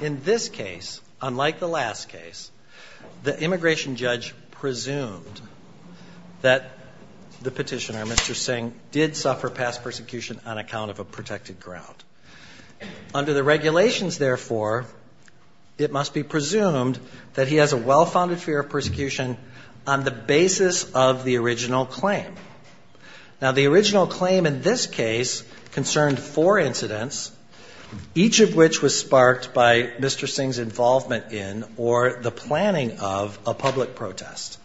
In this case, unlike the last case, the immigration judge presumed that the petitioner, Mr. Singh, did suffer past persecution on account of a protected ground. Under the regulations, therefore, it must be presumed that he has a well-founded fear of persecution on the basis of the original claim. Now, the original claim in this case concerned four incidents, each of which was sparked by Mr. Singh's involvement in or the planning of a public protest.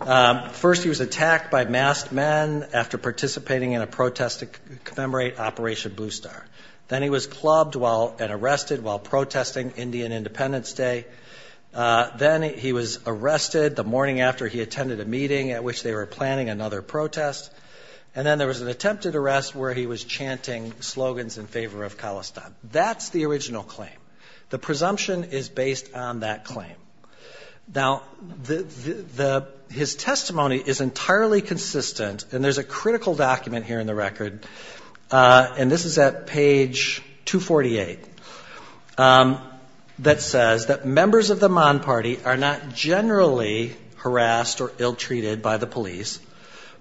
First, he was attacked by masked men after participating in a protest to commemorate Operation Blue Star. Then he was clubbed and arrested while protesting Indian Independence Day. Then he was arrested the morning after he attended a meeting at which they were planning another protest. And then there was an attempted arrest where he was chanting slogans in favor of Khalistan. That's the original claim. The presumption is based on that claim. Now, his testimony is entirely consistent, and there's a critical document here in the record, and this is at page 248, that says that members of the Man Party are not generally harassed or ill-treated by the police,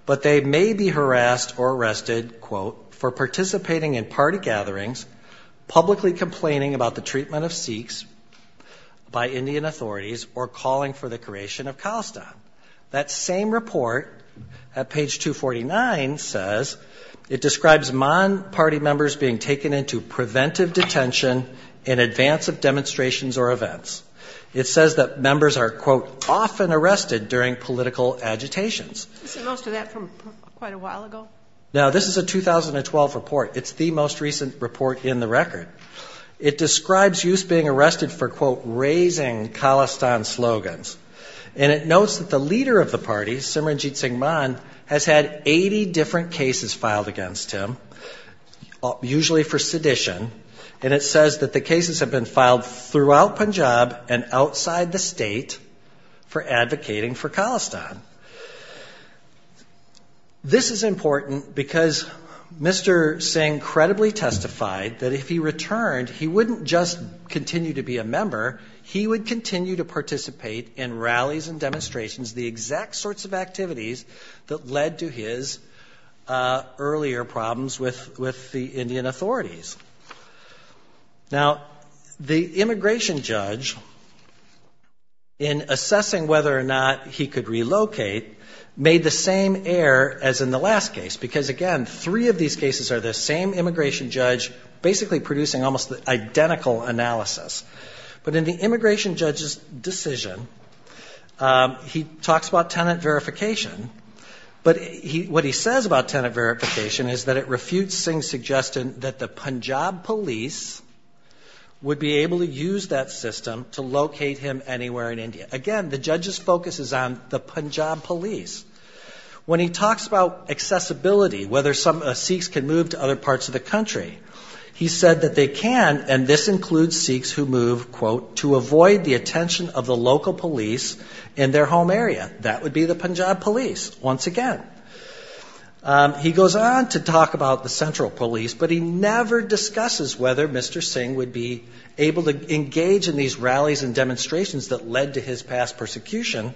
but they may be harassed or arrested, quote, for participating in party gatherings, publicly complaining about the treatment of Sikhs by Indian authorities, or calling for the creation of Khalistan. That same report at page 249 says, it describes Man Party members being taken into preventive detention in advance of demonstrations or events. It says that members are, quote, often arrested during political agitations. I've seen most of that from quite a while ago. Now, this is a 2012 report. It's the most recent report in the record. It describes youths being arrested for, quote, raising Khalistan slogans. And it notes that the leader of the party, Simranjit Singh Man, has had 80 different cases filed against him, usually for sedition, and it says that the cases have been filed throughout Punjab and outside the state for advocating for Khalistan. This is important because Mr. Singh credibly testified that if he returned, he wouldn't just continue to be a member. He would continue to participate in rallies and demonstrations, the exact sorts of activities that led to his earlier problems with the Indian authorities. Now, the immigration judge, in assessing whether or not he could relocate, made the same error as in the last case. Because, again, three of these cases are the same immigration judge, basically producing almost identical analysis. But in the immigration judge's decision, he talks about tenant verification. But what he says about tenant verification is that it refutes Singh's suggestion that the Punjab police would be able to use that system to locate him anywhere in India. Again, the judge's focus is on the Punjab police. When he talks about accessibility, whether some Sikhs can move to other parts of the country, he said that they can, and this includes Sikhs who move, quote, to avoid the attention of the local police in their home area. That would be the Punjab police, once again. He goes on to talk about the central police, but he never discusses whether Mr. Singh would be able to engage in these rallies and demonstrations that led to his past persecution,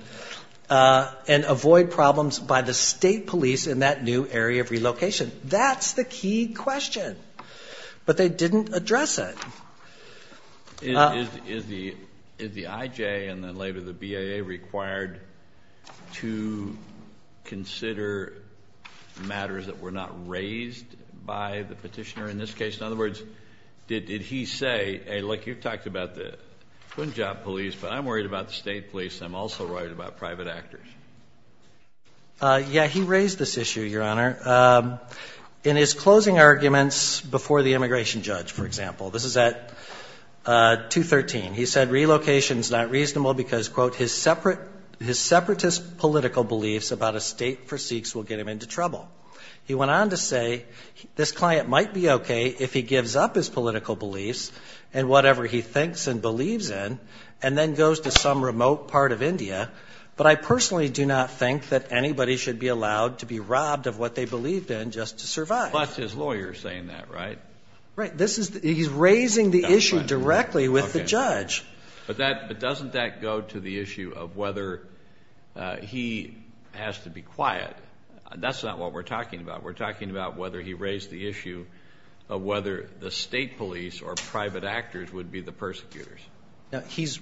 and avoid problems by the state police in that new area of relocation. That's the key question, but they didn't address it. Is the IJ and then later the BIA required to consider matters that were not raised by the petitioner in this case? In other words, did he say, hey, look, you've talked about the Punjab police, but I'm worried about the state police. I'm also worried about private actors. Yeah, he raised this issue, Your Honor. In his closing arguments before the immigration judge, for example, this is at 213. He said relocation's not reasonable because, quote, his separatist political beliefs about a state for Sikhs will get him into trouble. He went on to say this client might be okay if he gives up his political beliefs and whatever he thinks and believes in, and then goes to some remote part of India. But I personally do not think that anybody should be allowed to be robbed of what they believed in just to survive. But his lawyer's saying that, right? Right, he's raising the issue directly with the judge. But doesn't that go to the issue of whether he has to be quiet? That's not what we're talking about. We're talking about whether he raised the issue of whether the state police or private actors would be the persecutors. Now, he's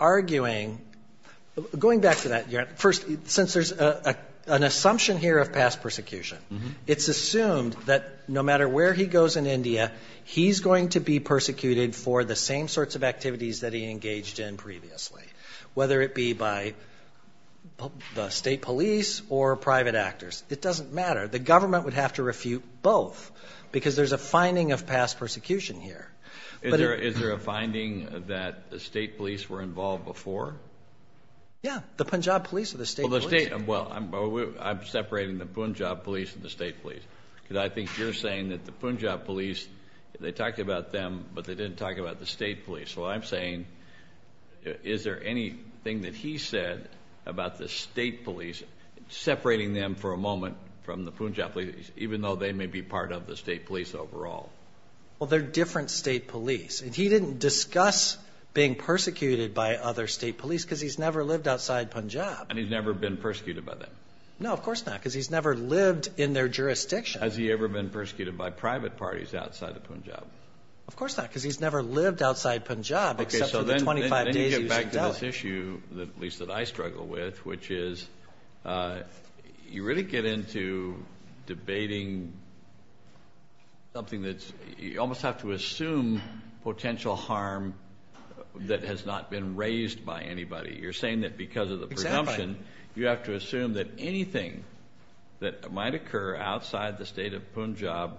arguing, going back to that, Your Honor, first, since there's an assumption here of past persecution, it's assumed that no matter where he goes in India, he's going to be persecuted for the same sorts of activities that he engaged in previously, whether it be by the state police or private actors. It doesn't matter. The government would have to refute both because there's a finding of past persecution here. Is there a finding that the state police were involved before? Yeah, the Punjab police or the state police. Well, I'm separating the Punjab police and the state police. Because I think you're saying that the Punjab police, they talked about them, but they didn't talk about the state police. So I'm saying, is there anything that he said about the state police separating them for a moment from the Punjab police, even though they may be part of the state police overall? Well, they're different state police. And he didn't discuss being persecuted by other state police because he's never lived outside Punjab. And he's never been persecuted by them? No, of course not, because he's never lived in their jurisdiction. Has he ever been persecuted by private parties outside of Punjab? Of course not, because he's never lived outside Punjab except for the 25 days he was in Delhi. Then you get back to this issue, at least that I struggle with, which is, you really get into debating something that's, you almost have to assume potential harm that has not been raised by anybody. You're saying that because of the presumption, you have to assume that anything that might occur outside the state of Punjab,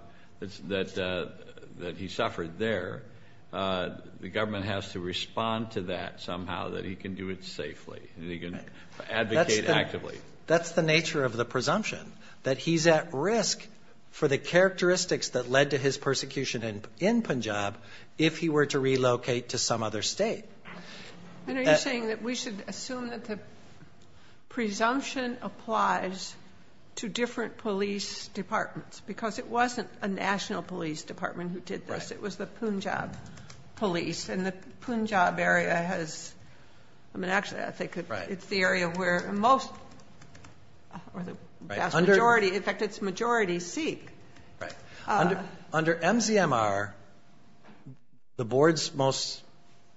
that he suffered there, the government has to respond to that somehow, that he can do it safely. That he can advocate actively. That's the nature of the presumption, that he's at risk for the characteristics that led to his persecution in Punjab, if he were to relocate to some other state. And are you saying that we should assume that the presumption applies to different police departments? Because it wasn't a national police department who did this, it was the Punjab police. And the Punjab area has, I mean, actually, I think it's the area where most, or the vast majority, in fact, it's majority Sikh. Right. Under MZMR, the board's most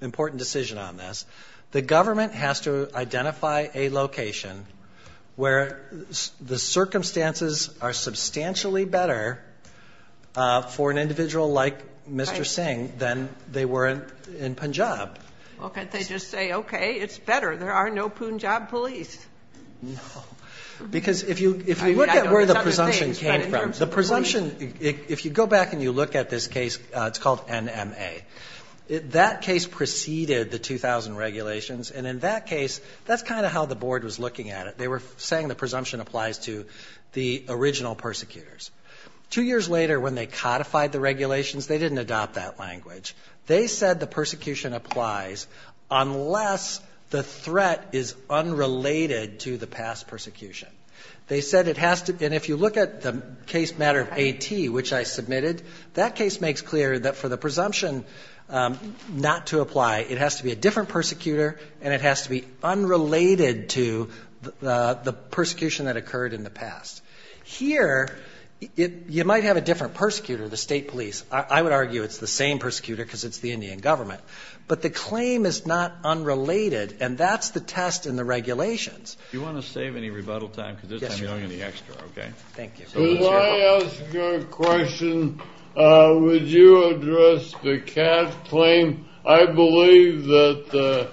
important decision on this, the government has to identify a location where the circumstances are substantially better for an individual like Mr. Singh than they were in Punjab. Well, can't they just say, okay, it's better, there are no Punjab police? No, because if you look at where the presumption came from, the presumption, if you go back and you look at this case, it's called NMA. That case preceded the 2000 regulations, and in that case, that's kind of how the board was looking at it. They were saying the presumption applies to the original persecutors. Two years later, when they codified the regulations, they didn't adopt that language. They said the persecution applies unless the threat is unrelated to the past persecution. They said it has to, and if you look at the case matter of AT, which I submitted, that case makes clear that for the presumption not to apply, it has to be a different persecutor, and it has to be unrelated to the persecution that occurred in the past. Here, you might have a different persecutor, the state police. I would argue it's the same persecutor because it's the Indian government, but the claim is not unrelated, and that's the test in the regulations. Do you want to save any rebuttal time because this time you don't have any extra, okay? Thank you. If I ask a question, would you address the CAT claim? I believe that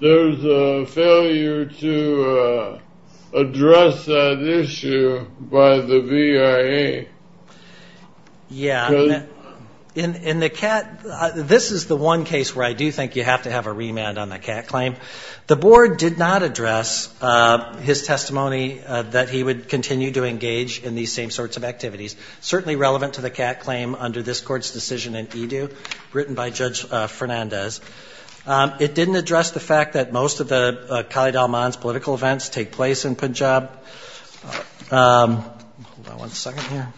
there's a failure to address that issue by the VIA. Yeah, in the CAT, this is the one case where I do think you have to have a remand on the CAT claim. The board did not address his testimony that he would continue to engage in these same sorts of activities, certainly relevant to the CAT claim under this court's decision in EDU, written by Judge Fernandez. It didn't address the fact that most of the Khalid al-Mans political events take place in Punjab. Hold on one second here.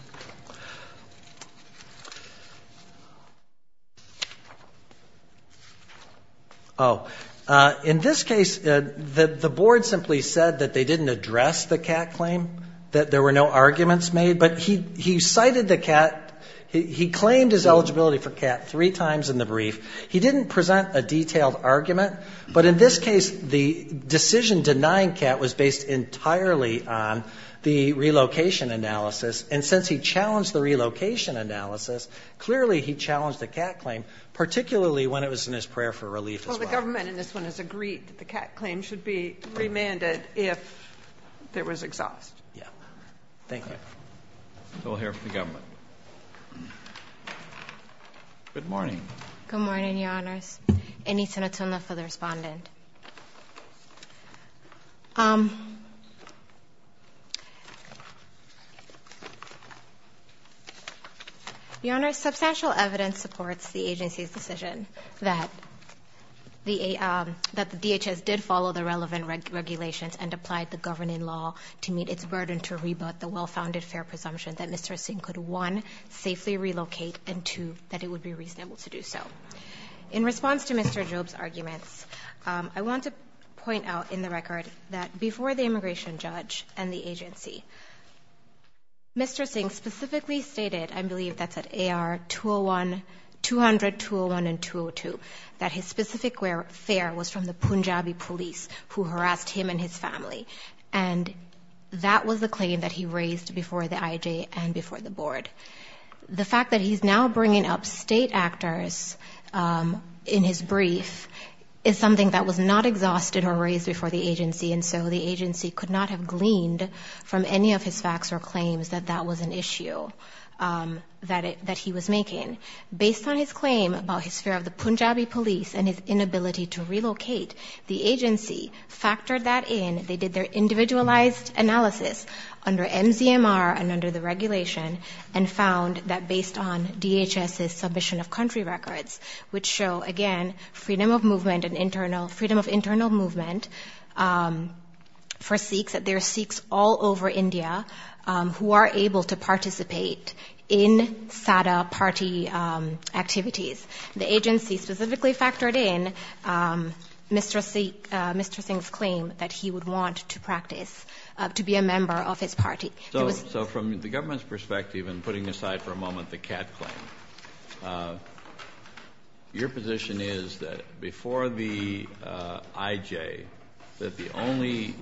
Oh. In this case, the board simply said that they didn't address the CAT claim, that there were no arguments made, but he cited the CAT. He claimed his eligibility for CAT three times in the brief. He didn't present a detailed argument, but in this case, the decision denying CAT was based entirely on the relocation analysis. And since he challenged the relocation analysis, clearly he challenged the CAT claim, particularly when it was in his prayer for relief as well. Well, the government in this one has agreed that the CAT claim should be remanded if there was exhaust. Yeah. Thank you. We'll hear from the government. Good morning. Good morning, Your Honors. Any senator for the respondent? Your Honor, substantial evidence supports the agency's decision that the DHS did follow the relevant regulations and applied the governing law to meet its burden to rebut the well-founded fair presumption that Mr. Singh could, one, safely relocate, and two, that it would be reasonable to do so. In response to Mr. Job's arguments, I want to point out in the record that before the immigration judge and the agency, Mr. Singh specifically stated, I believe that's at AR 200, 201, and 202, that his specific fare was from the Punjabi police who harassed him and his family. And that was the claim that he raised before the IJ and before the board. The fact that he's now bringing up state actors in his brief is something that was not exhausted or raised before the agency, and so the agency could not have gleaned from any of his facts or claims that that was an issue that he was making. Based on his claim about his fare of the Punjabi police and his inability to relocate, the agency factored that in. They did their individualized analysis under MZMR and under the regulation and found that based on DHS's submission of country records, which show, again, freedom of movement and internal, freedom of internal movement for Sikhs, that there are Sikhs all over India who are able to participate in SADA party activities. The agency specifically factored in Mr. Singh's claim that he would want to practice, to be a member of his party. So from the government's perspective, and putting aside for a moment the CAD claim, your position is that before the IJ, that the only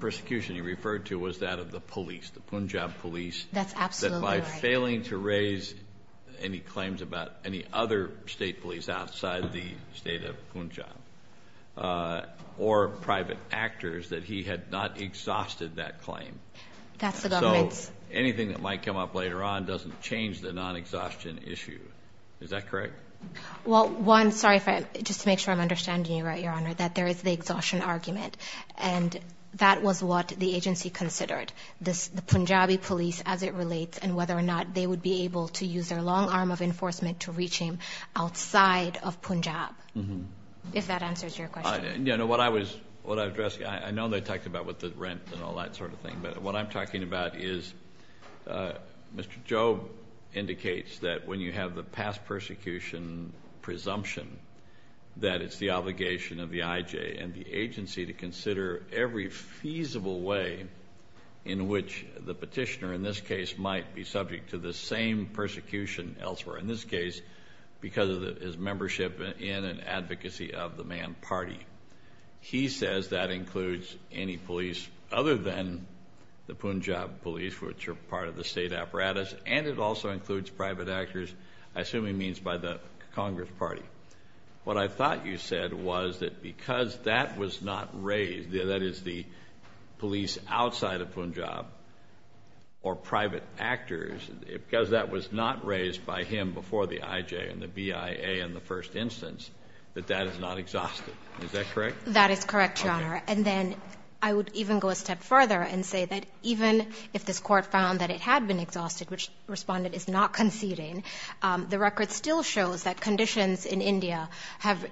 persecution he referred to was that of the police, the Punjab police. That's absolutely right. That by failing to raise any claims about any other state police outside the state of Punjab or private actors, that he had not exhausted that claim. That's the government's... So anything that might come up later on doesn't change the non-exhaustion issue. Is that correct? Well, one, sorry, just to make sure I'm understanding you right, Your Honor, that there is the exhaustion argument, and that was what the agency considered, the Punjabi police as it relates and whether or not they would be able to use their long arm of enforcement to reach him outside of Punjab. If that answers your question. What I was addressing, I know they talked about with the rent and all that sort of thing, but what I'm talking about is Mr. Jobe indicates that when you have the past persecution presumption that it's the obligation of the IJ and the agency to consider every feasible way in which the petitioner in this case might be subject to the same persecution elsewhere. In this case, because of his membership in an advocacy of the man party. He says that includes any police other than the Punjab police, which are part of the state apparatus, and it also includes private actors, I assume he means by the Congress party. What I thought you said was that because that was not raised, that is the police outside of Punjab or private actors, because that was not raised by him before the IJ and the BIA in the first instance, that that is not exhausted. Is that correct? That is correct, Your Honor. And then I would even go a step further and say that even if this court found that it had been exhausted, which the respondent is not conceding, the record still shows that conditions in India have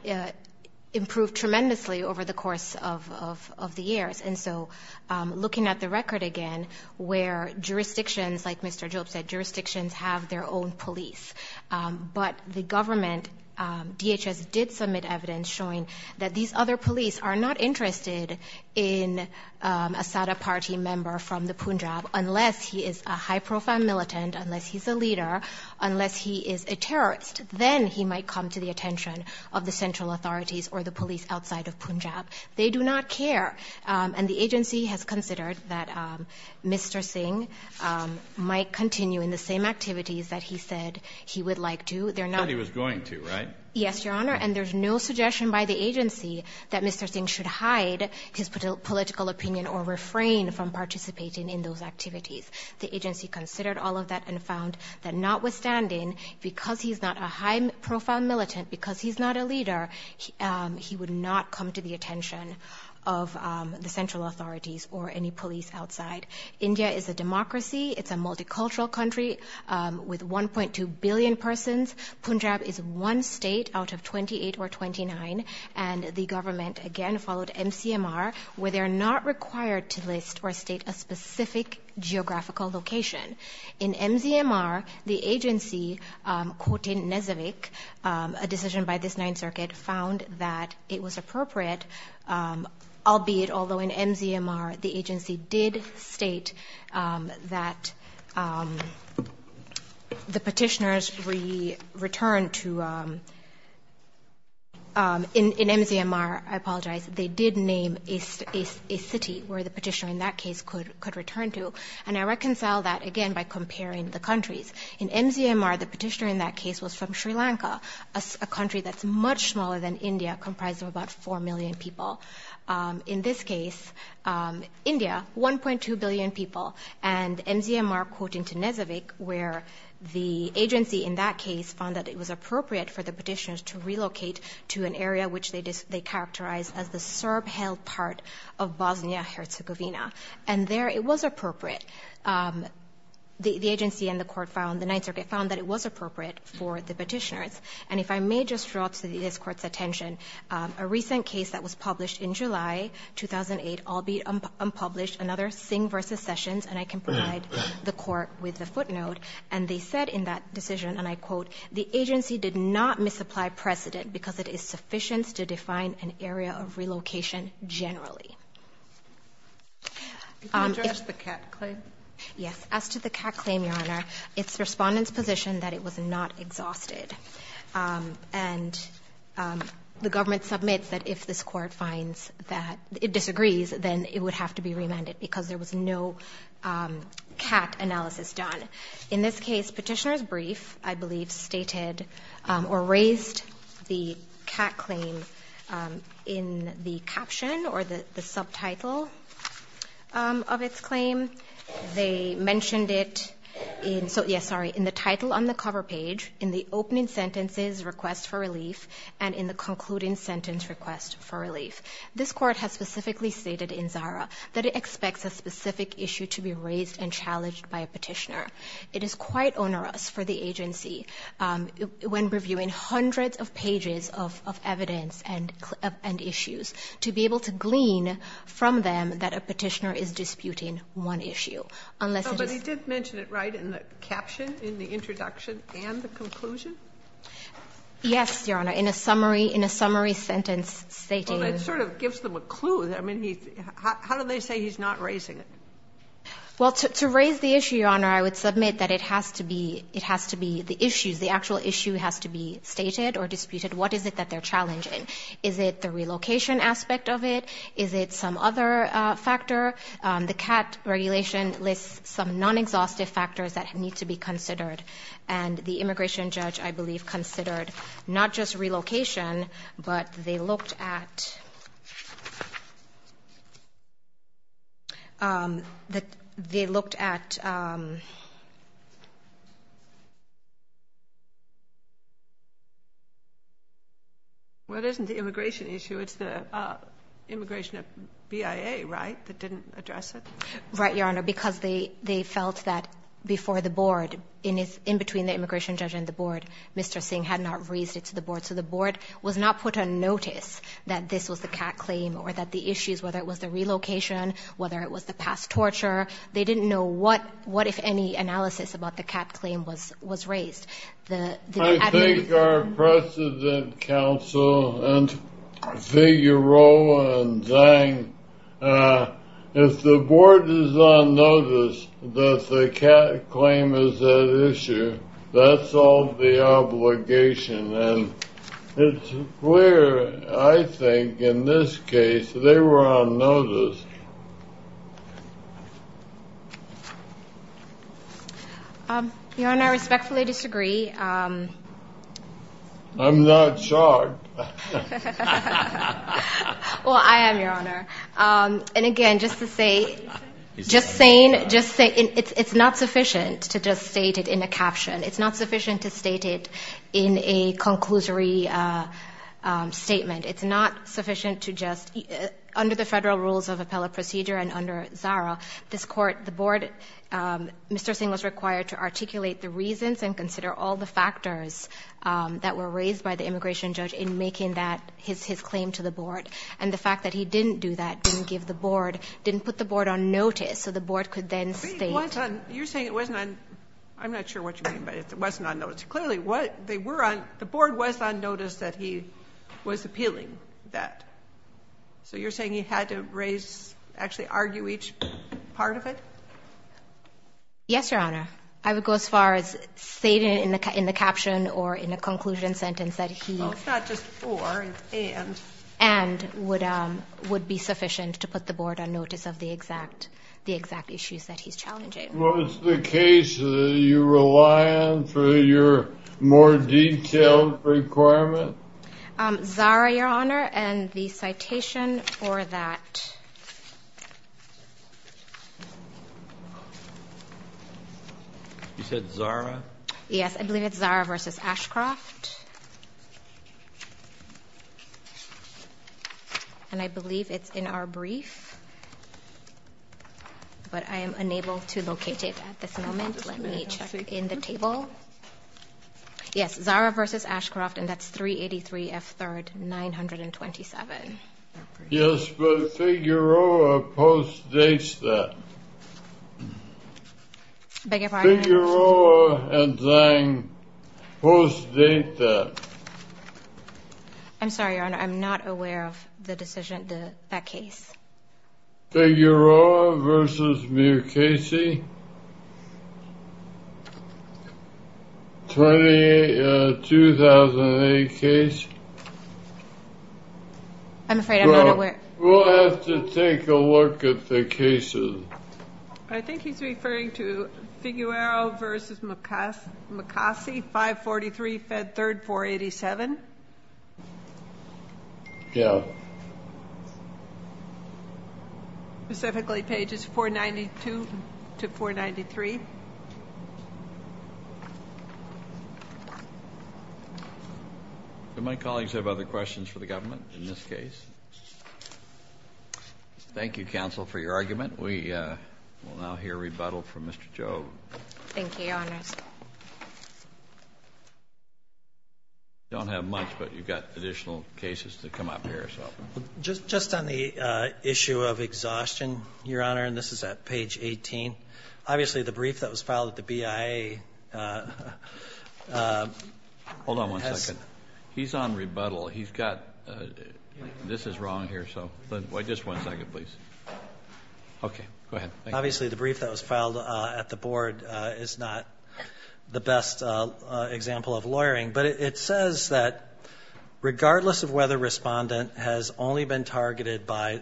improved tremendously over the course of the years. And so looking at the record again, where jurisdictions, like Mr. Job said, jurisdictions have their own police. But the government, DHS, did submit evidence showing that these other police are not interested in a Sada party member from the Punjab unless he is a high-profile militant, unless he's a leader, unless he is a terrorist. Then he might come to the attention of the central authorities or the police outside of Punjab. They do not care. And the agency has considered that Mr. Singh might continue in the same activities that he said he would like to. Said he was going to, right? Yes, Your Honor. And there's no suggestion by the agency that Mr. Singh should hide his political opinion or refrain from participating in those activities. The agency considered all of that and found that notwithstanding, because he's not a high-profile militant, because he's not a leader, he would not come to the attention of the central authorities or any police outside. India is a democracy. It's a multicultural country with 1.2 billion persons. Punjab is one state out of 28 or 29. And the government, again, followed MCMR, where they're not required to list or state a specific geographical location. In MCMR, the agency, quoting Nezavik, a decision by this Ninth Circuit, found that it was appropriate, albeit, although in MCMR, the agency did state that the petitioners returned to – in MCMR, I apologize, they did name a city where the petitioner in that case could return to. And I reconcile that, again, by comparing the countries. In MCMR, the petitioner in that case was from Sri Lanka, a country that's much smaller than India, comprised of about 4 million people. In this case, India, 1.2 billion people. And MCMR, quoting Nezavik, where the agency in that case found that it was appropriate for the petitioners to relocate to an area which they characterized as the Serb-held part of Bosnia-Herzegovina. And there, it was appropriate. The agency and the court found, the Ninth Circuit found that it was appropriate for the petitioners. And if I may just draw to this Court's attention, a recent case that was published in July 2008, albeit unpublished, another Singh v. Sessions, and I can provide the Court with the footnote, and they said in that decision, and I quote, the agency did not misapply precedent because it is sufficient to define an area of relocation generally. You can address the CAT claim. Yes. As to the CAT claim, Your Honor, it's Respondent's position that it was not exhausted. And the government submits that if this Court finds that it disagrees, then it would have to be remanded because there was no CAT analysis done. In this case, Petitioner's Brief, I believe, stated or raised the CAT claim in the caption or the subtitle of its claim. They mentioned it in the title on the cover page, in the opening sentences, Request for Relief, and in the concluding sentence, Request for Relief. This Court has specifically stated in ZARA that it expects a specific issue to be raised and challenged by a petitioner. It is quite onerous for the agency, when reviewing hundreds of pages of evidence and issues, to be able to glean from them that a petitioner is disputing one issue. Unless it is... But he did mention it, right, in the caption, in the introduction and the conclusion? Yes, Your Honor. In a summary sentence stating... Well, it sort of gives them a clue. I mean, how do they say he's not raising it? Well, to raise the issue, Your Honor, I would submit that it has to be the issues. The actual issue has to be stated or disputed. What is it that they're challenging? Is it the relocation aspect of it? Is it some other factor? The CAT regulation lists some non-exhaustive factors that need to be considered. And the immigration judge, I believe, considered not just relocation, but they looked at... They looked at... Well, it isn't the immigration issue. It's the immigration at BIA, right, that didn't address it? Right, Your Honor, because they felt that before the board, in between the immigration judge and the board, Mr. Singh had not raised it to the board. He was not put on notice that this was the CAT claim or that the issues, whether it was the relocation, whether it was the past torture, they didn't know what, if any, analysis about the CAT claim was raised. I think our precedent counsel and Figueroa and Zhang, if the board is on notice that the CAT claim is an issue, that's all the obligation. And it's clear, I think, in this case, they were on notice. Your Honor, I respectfully disagree. I'm not shocked. Well, I am, Your Honor. And again, just to say... Just saying... It's not sufficient to just state it in a caption. It's not sufficient to state it in a conclusory statement. It's not sufficient to just... Under the Federal Rules of Appellate Procedure and under ZARA, this Court, the board, Mr. Singh was required to articulate the reasons and consider all the factors that were raised by the immigration judge in making that his claim to the board. And the fact that he didn't do that, didn't give the board, didn't put the board on notice, so the board could then state... You're saying it wasn't on... I'm not sure what you mean by it wasn't on notice. Clearly, the board was on notice that he was appealing that. So you're saying he had to raise, actually argue each part of it? Yes, Your Honor. I would go as far as stating it in the caption or in a conclusion sentence that he... Oh, it's not just for, it's and. And would be sufficient to put the board on notice of the exact issues that he's challenging. Was the case that you rely on for your more detailed requirement? ZARA, Your Honor, and the citation for that. You said ZARA? Yes, I believe it's ZARA v. Ashcroft. And I believe it's in our brief. But I am unable to locate it at this moment. Let me check in the table. Yes, ZARA v. Ashcroft, and that's 383 F. 3rd, 927. Yes, but Figueroa postdates that. Beg your pardon? Figueroa and ZANG postdate that. I'm sorry, Your Honor. I'm not aware of the decision, that case. Figueroa v. Mukasey. 2008 case. I'm afraid I'm not aware. We'll have to take a look at the cases. I think he's referring to Figueroa v. Mukasey, 543 F. 3rd, 487. Yeah. Specifically pages 492 to 493. Do my colleagues have other questions for the government in this case? Thank you, counsel, for your argument. We will now hear rebuttal from Mr. Joe. Thank you, Your Honors. You don't have much, but you've got additional cases to come up here. Just on the issue of exhaustion, Your Honor, and this is at page 18. Obviously, the brief that was filed at the BIA... Hold on one second. He's on rebuttal. He's got... This is wrong here, so... Just one second, please. Okay, go ahead. Obviously, the brief that was filed at the board is not the best example of lawyering, but it says that regardless of whether a respondent has only been targeted by...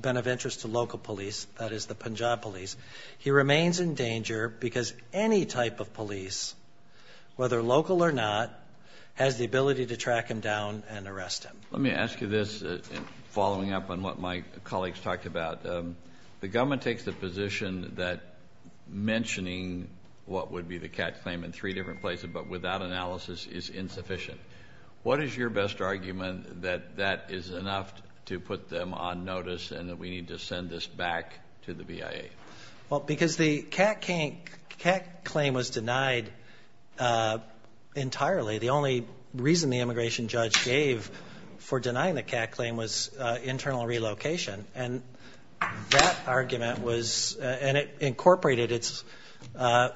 been of interest to local police, that is the Punjab police, he remains in danger because any type of police, whether local or not, has the ability to track him down and arrest him. Let me ask you this, following up on what my colleagues talked about. The government takes the position that mentioning what would be the catch claim in three different places, but without analysis, is insufficient. What is your best argument that that is enough to put them on notice and that we need to send this back to the BIA? Well, because the catch claim was denied entirely. The only reason the immigration judge gave for denying the catch claim was internal relocation, and that argument was...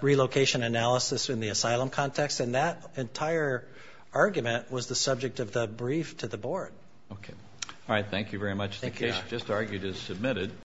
relocation analysis in the asylum context, and that entire argument was the subject of the brief to the board. Okay. All right, thank you very much. Thank you. The case just argued is submitted.